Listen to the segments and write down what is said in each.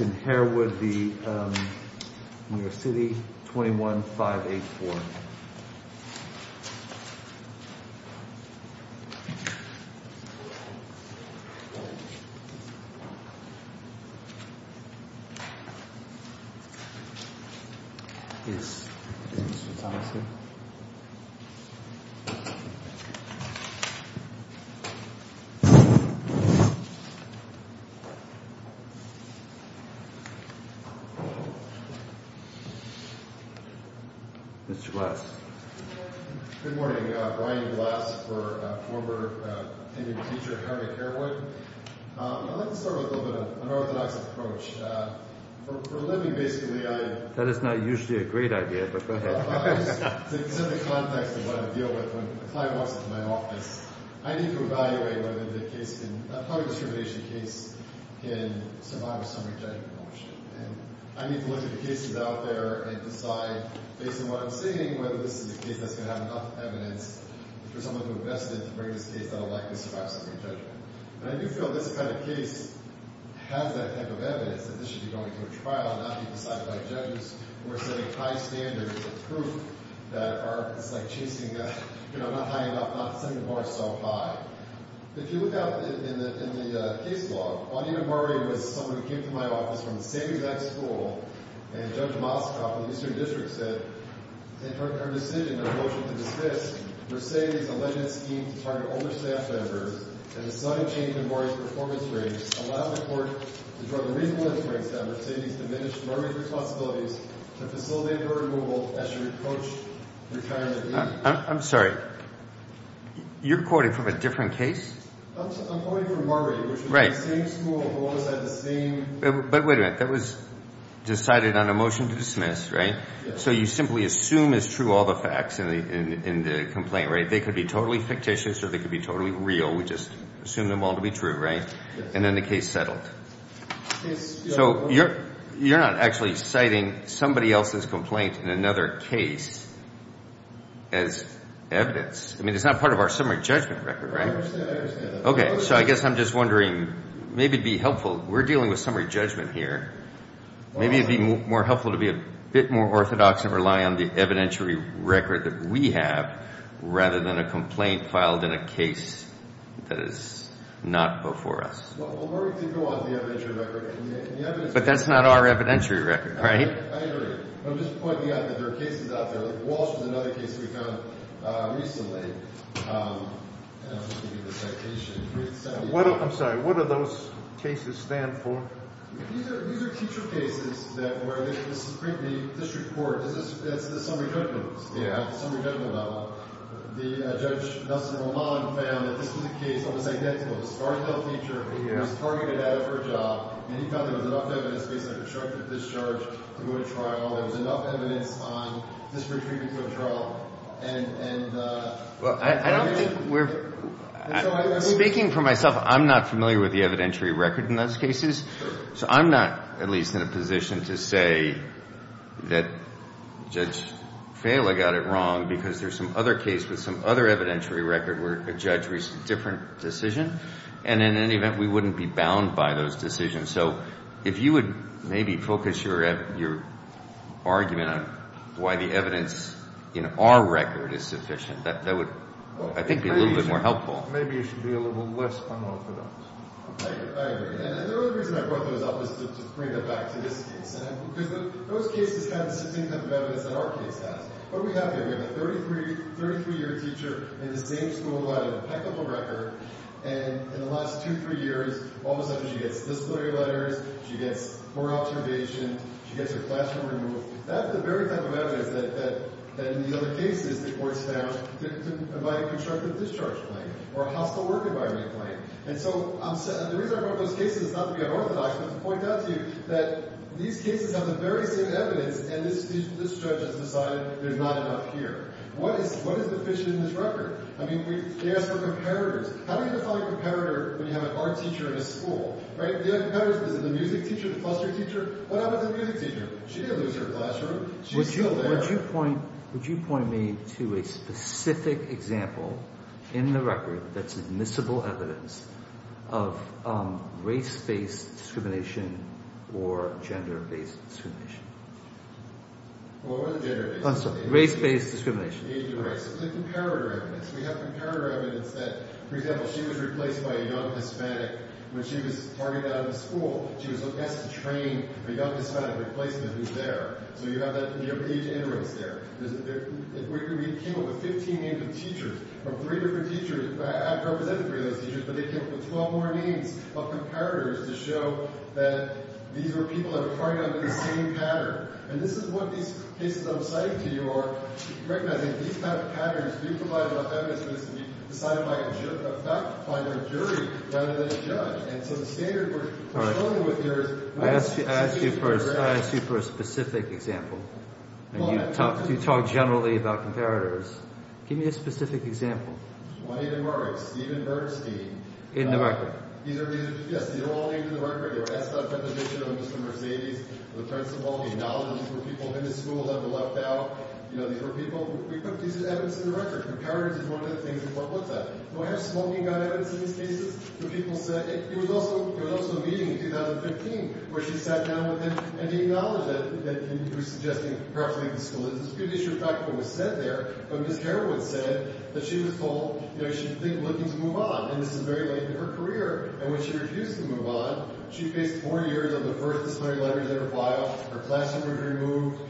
Harrison Harewood v New York City 21-584 Mr. Glass. Good morning. Brian Glass for former teacher at Harvard Harewood. I'd like to start with a little bit of an orthodox approach. For a living, basically, I... That is not usually a great idea, but go ahead. To set the context of what I deal with when a client walks into my office, I need to evaluate whether the case can... a public discrimination case can survive a summary judgment motion. And I need to look at the cases out there and decide, based on what I'm seeing, whether this is a case that's going to have enough evidence for someone to invest in to bring this case that will likely survive summary judgment. And I do feel this kind of case has that type of evidence, that this should be going to a trial and not be decided by judges who are setting high standards of proof that are... it's like chasing a... you know, not high enough, not setting the bar so high. If you look out in the case log, Audie Memboree was someone who came to my office from the same exact school, and Judge Moskoff of the Eastern District said, in her decision, her motion to dismiss, Mercedes' alleged scheme to target older staff members and the sudden change in Memboree's performance ratings allowed the court to draw the reasonable inference that Mercedes diminished her responsibilities to facilitate her removal as she approached retirement age. I'm sorry. You're quoting from a different case? I'm quoting from Memboree, which is the same school, alongside the same... But wait a minute. That was decided on a motion to dismiss, right? Yes. So you simply assume is true all the facts in the complaint, right? They could be totally fictitious or they could be totally real. We just assume them all to be true, right? Yes. So you're not actually citing somebody else's complaint in another case as evidence. I mean, it's not part of our summary judgment record, right? I understand that. Okay. So I guess I'm just wondering, maybe it'd be helpful... we're dealing with summary judgment here. Maybe it'd be more helpful to be a bit more orthodox and rely on the evidentiary record that we have rather than a complaint filed in a case that is not before us. Well, we're going to go on to the evidentiary record. But that's not our evidentiary record, right? I agree. I'm just pointing out that there are cases out there. Like Walsh is another case we found recently. I'm sorry. What do those cases stand for? These are teacher cases where the district court... that's the summary judgment level. Judge Nelson-Román found that this was a case that was identical. It was a barred-tailed teacher. He was targeted out of her job. And he found there was enough evidence based on a constructive discharge to go to trial. There was enough evidence on district treatment to a trial. Well, I don't think we're... speaking for myself, I'm not familiar with the evidentiary record in those cases. So I'm not at least in a position to say that Judge Fela got it wrong because there's some other case with some other evidentiary record where a judge reached a different decision. And in any event, we wouldn't be bound by those decisions. So if you would maybe focus your argument on why the evidence in our record is sufficient, that would, I think, be a little bit more helpful. Maybe you should be a little less unorthodox. I agree. And the only reason I brought those up was to bring them back to this case. Because those cases have the same kind of evidence that our case has. What do we have here? We have a 33-year teacher in the same school who had an impeccable record. And in the last two, three years, all of a sudden she gets disciplinary letters. She gets more observation. She gets her classroom removed. That's the very type of evidence that in these other cases the courts found to invite a constructive discharge claim or a hostile work environment claim. And so the reason I brought those cases is not to be unorthodox, but to point out to you that these cases have the very same evidence, and this judge has decided there's not enough here. What is deficient in this record? I mean, they ask for comparators. How do you define a comparator when you have an art teacher in a school? The other comparator is the music teacher, the foster teacher. What happens to the music teacher? She didn't lose her classroom. She's still there. Would you point me to a specific example in the record that's admissible evidence of race-based discrimination or gender-based discrimination? What are the gender-based? I'm sorry. Race-based discrimination. It's the comparator evidence. We have comparator evidence that, for example, she was replaced by a young Hispanic when she was targeted out of the school. She was asked to train a young Hispanic replacement who's there. So you have that age interest there. We came up with 15 names of teachers from three different teachers. I haven't represented three of those teachers, but they came up with 12 more names of comparators to show that these were people that were targeted under the same pattern. And this is what these cases I'm citing to you are recognizing. These kind of patterns do provide enough evidence for this to be decided by a jury rather than a judge. And so the standard we're struggling with here is— I asked you for a specific example, and you talk generally about comparators. Give me a specific example. Juanita Murray, Stephen Bernstein— In the record. Yes, they were all named in the record. They were asked about a preposition on Mr. Mercedes, the principal. They acknowledged these were people in the school that were left out. You know, these were people—we put these as evidence in the record. Comparators is one of the things the court looked at. Do I have smoking gun evidence in these cases? The people said—it was also a meeting in 2015 where she sat down with them and they acknowledged that—and were suggesting perhaps leaving the school. It's a good issue of fact, but it was said there. But Ms. Heroin said that she was full. You know, she's looking to move on. And this is very late in her career. And when she refused to move on, she faced four years of the first disciplinary letters in her file. Her classroom was removed.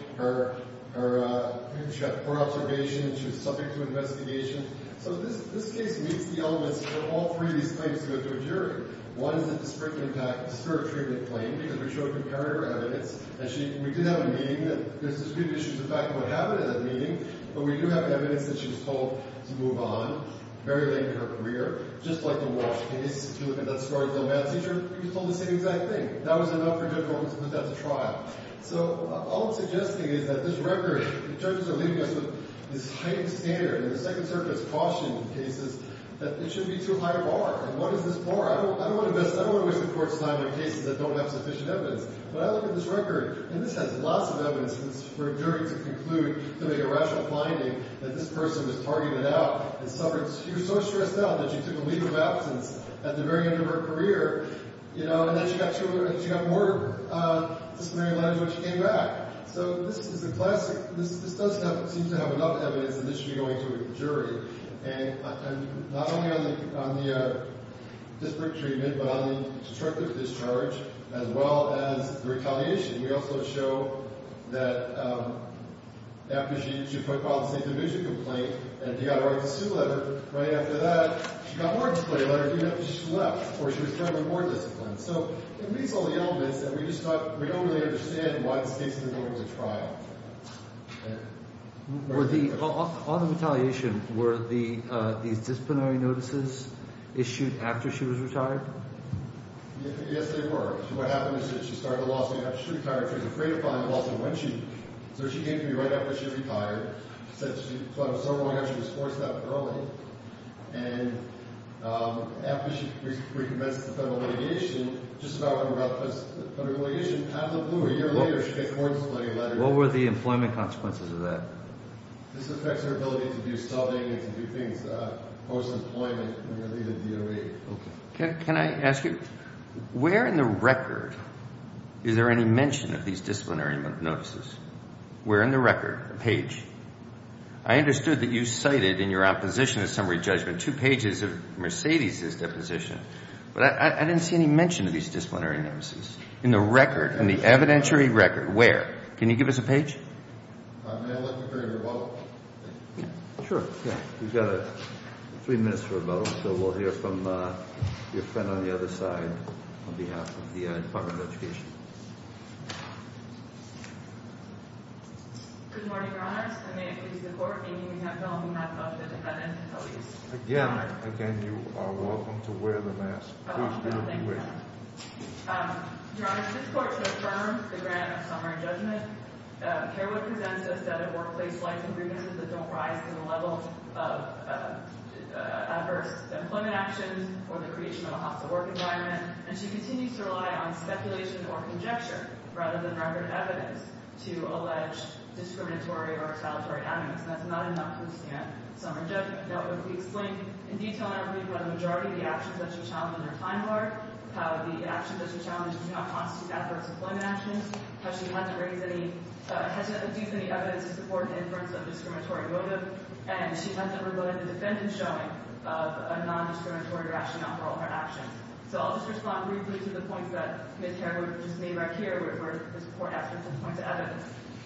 She got four observations. She was subject to investigation. So this case meets the elements for all three of these claims to go to a jury. One is a disparate treatment claim because we showed comparator evidence. And we did have a meeting. There's a good issue of fact of what happened at that meeting. But we do have evidence that she was told to move on very late in her career. Just like the Walsh case. If you look at that story with the old math teacher, he was told the same exact thing. That was enough for Judge Ormson to put that to trial. So all I'm suggesting is that this record—the judges are leaving us with this heightened standard. And the Second Circuit has cautioned in cases that it should be too high a bar. And what is this bar? I don't want to invest—I don't want to wish the court's design on cases that don't have sufficient evidence. But I look at this record, and this has lots of evidence for a jury to conclude to make a rational finding that this person was targeted out and suffered— that she was forced to resell, that she took a leave of absence at the very end of her career, you know, and that she got more disciplinary language when she came back. So this is a classic—this does seem to have enough evidence that this should be going to a jury. And not only on the disparate treatment, but on the destructive discharge, as well as the retaliation, we also show that after she put filed a state division complaint and got a right to sue letter, right after that, she got more disciplinary language even after she left, or she was currently more disciplined. So it meets all the elements that we just thought—we don't really understand why this case is going to go to trial. Were the—on the retaliation, were the disciplinary notices issued after she was retired? Yes, they were. What happened is that she started a lawsuit after she retired. She was afraid of filing a lawsuit when she—so she came to me right after she retired. She said she thought it was so wrong to have—she was forced out early. And after she recommenced the federal litigation, just about when the federal litigation paddled blue, a year later, she got more disciplinary language. What were the employment consequences of that? This affects her ability to do something and to do things post-employment and related to DOE. Okay. Can I ask you, where in the record is there any mention of these disciplinary notices? Where in the record? Page. I understood that you cited in your opposition to summary judgment two pages of Mercedes' deposition, but I didn't see any mention of these disciplinary notices. In the record, in the evidentiary record, where? Can you give us a page? May I let you carry your bottle? Sure. Okay. We've got three minutes for a bottle, so we'll hear from your friend on the other side on behalf of the Department of Education. Good morning, Your Honor. I may appease the Court, making an attempt on behalf of the defendant to police— Again, again, you are welcome to wear the mask. Please do. Thank you. Your Honor, this Court has affirmed the grant of summary judgment. Kerwood presents a set of workplace life and grievances that don't rise to the level of adverse employment actions or the creation of a hostile work environment, and she continues to rely on speculation or conjecture rather than record evidence to allege discriminatory or exaltatory avenues. And that's not enough to withstand summary judgment. What was explained in detail in that brief were the majority of the actions that she challenged in her time hard, how the actions that she challenged did not constitute adverse employment actions, how she had to reduce any evidence to support an inference of discriminatory motive, and she has never voted the defendant showing of a nondiscriminatory rationale for all her actions. So I'll just respond briefly to the points that Ms. Kerwood just made right here, where this Court asked for some points of evidence.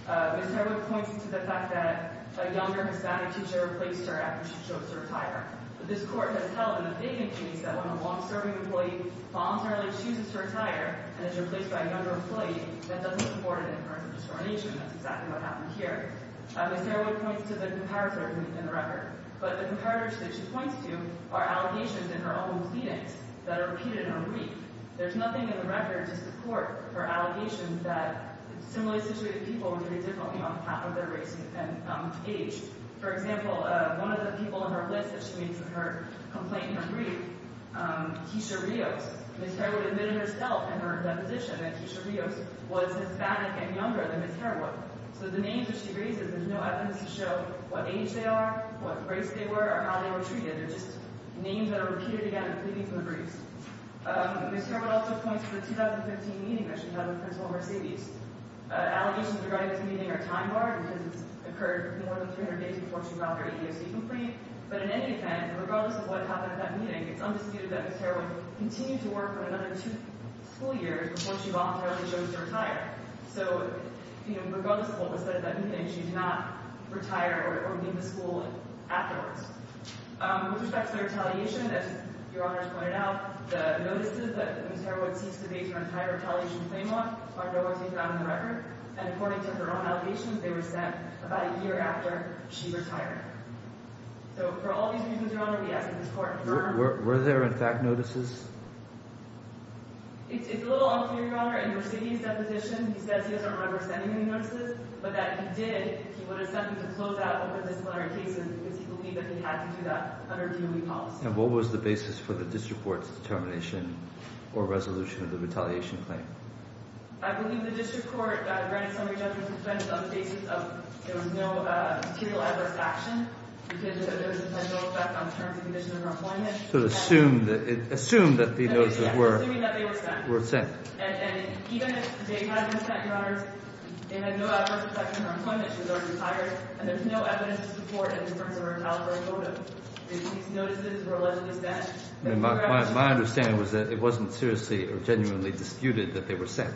Ms. Kerwood points to the fact that a younger Hispanic teacher replaced her after she chose to retire. This Court has held in the vacant case that when a long-serving employee voluntarily chooses to retire and is replaced by a younger employee, that doesn't afford an inference of discrimination. That's exactly what happened here. Ms. Kerwood points to the comparators within the record, but the comparators that she points to are allegations in her own pleadings that are repeated in her brief. There's nothing in the record to support her allegations that similarly situated people would do it differently on behalf of their race and age. For example, one of the people on her list that she meets with her complaint in her brief, Tisha Rios. Ms. Kerwood admitted herself in her deposition that Tisha Rios was Hispanic and younger than Ms. Kerwood. So the names that she raises, there's no evidence to show what age they are, what race they were, or how they were treated. They're just names that are repeated again in pleadings in the briefs. Ms. Kerwood also points to the 2015 meeting that she had with Principal Mercedes. Allegations regarding this meeting are time-barred because it's occurred more than 300 days before she got her EEOC complete, but in any event, regardless of what happened at that meeting, it's undisputed that Ms. Kerwood continued to work for another two school years before she voluntarily chose to retire. So regardless of what was said at that meeting, she did not retire or leave the school afterwards. With respect to her retaliation, as Your Honors pointed out, the notices that Ms. Kerwood seeks to base her entire retaliation claim on are no longer taken out of the record, and according to her own allegations, they were sent about a year after she retired. So for all these reasons, Your Honor, we ask that this Court confirm... Were there, in fact, notices? It's a little unclear, Your Honor. In Mr. Mercedes' deposition, he says he doesn't remember sending any notices, but that he did, he would have sent them to close out over the similar cases because he believed that they had to do that under DOE policy. And what was the basis for the District Court's determination or resolution of the retaliation claim? I believe the District Court granted some redemptive defense on the basis of there was no material adverse action because there was no effect on the terms and conditions of her employment. So it assumed that the notices were... Assuming that they were sent. ...were sent. And even if they had been sent, Your Honors, they had no adverse effect on her employment because she retired, and there's no evidence to support it in terms of her retaliatory motive. These notices were allegedly sent. My understanding was that it wasn't seriously or genuinely disputed that they were sent.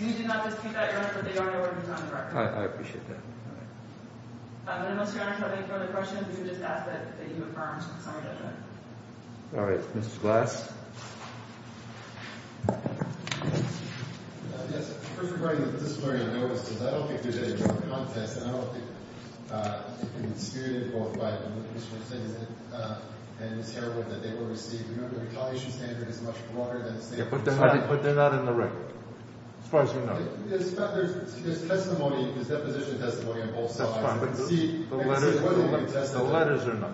We do not dispute that, Your Honor, but they are nowhere to be found directly. I appreciate that. And unless, Your Honor, you have any further questions, we can just ask that you confirm some of that. All right. Mr. Glass? Yes. First of all, Your Honor, this is where I noticed, because I don't think there's any drug contest, and I don't think it's disputed, but I just want to say that in this hearing that they were received, remember, the retaliation standard is much broader than the State of Minnesota. But they're not in the record, as far as we know. There's testimony, there's deposition testimony on both sides. That's fine, but the letters are not.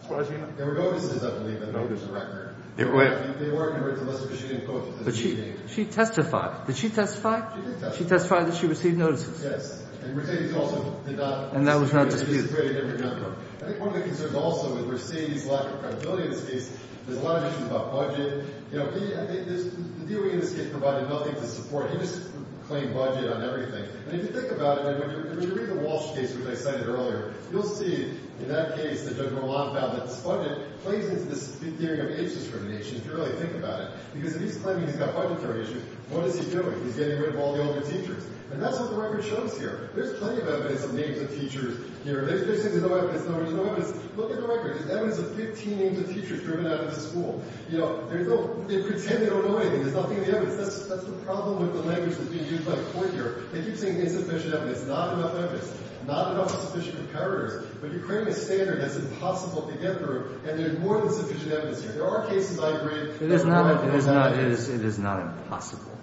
As far as we know. There were notices, I believe, in the notice record. There were. They weren't in the records, unless she didn't quote them. But she testified. Did she testify? She did testify. She testified that she received notices. Yes. And we're saying she also did not. And that was not disputed. I think one of the concerns also is we're seeing this lack of credibility in this case. There's a lot of issues about budget. You know, the DOE in this case provided nothing to support. They just claimed budget on everything. And if you think about it, when you read the Walsh case, which I cited earlier, you'll see in that case that Judge Rolando found that this budget plays into this big theory of age discrimination, if you really think about it. Because if he's claiming he's got budget variation, what is he doing? He's getting rid of all the older teachers. And that's what the record shows here. There's plenty of evidence of names of teachers here. They're saying there's no evidence. No, there's no evidence. Look at the record. There's evidence of 15 names of teachers driven out of the school. You know, they pretend they don't know anything. There's nothing in the evidence. That's the problem with the language that's being used by the court here. They keep saying insufficient evidence, not enough evidence, not enough sufficient comparators. But you're claiming a standard that's impossible to get through, and there's more than sufficient evidence here. There are cases I agree. It is not impossible.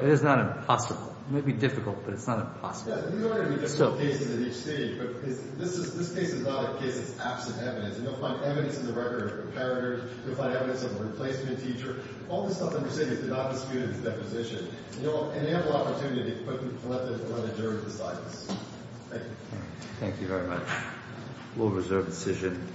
It is not impossible. It may be difficult, but it's not impossible. Thank you very much. We'll reserve the decision.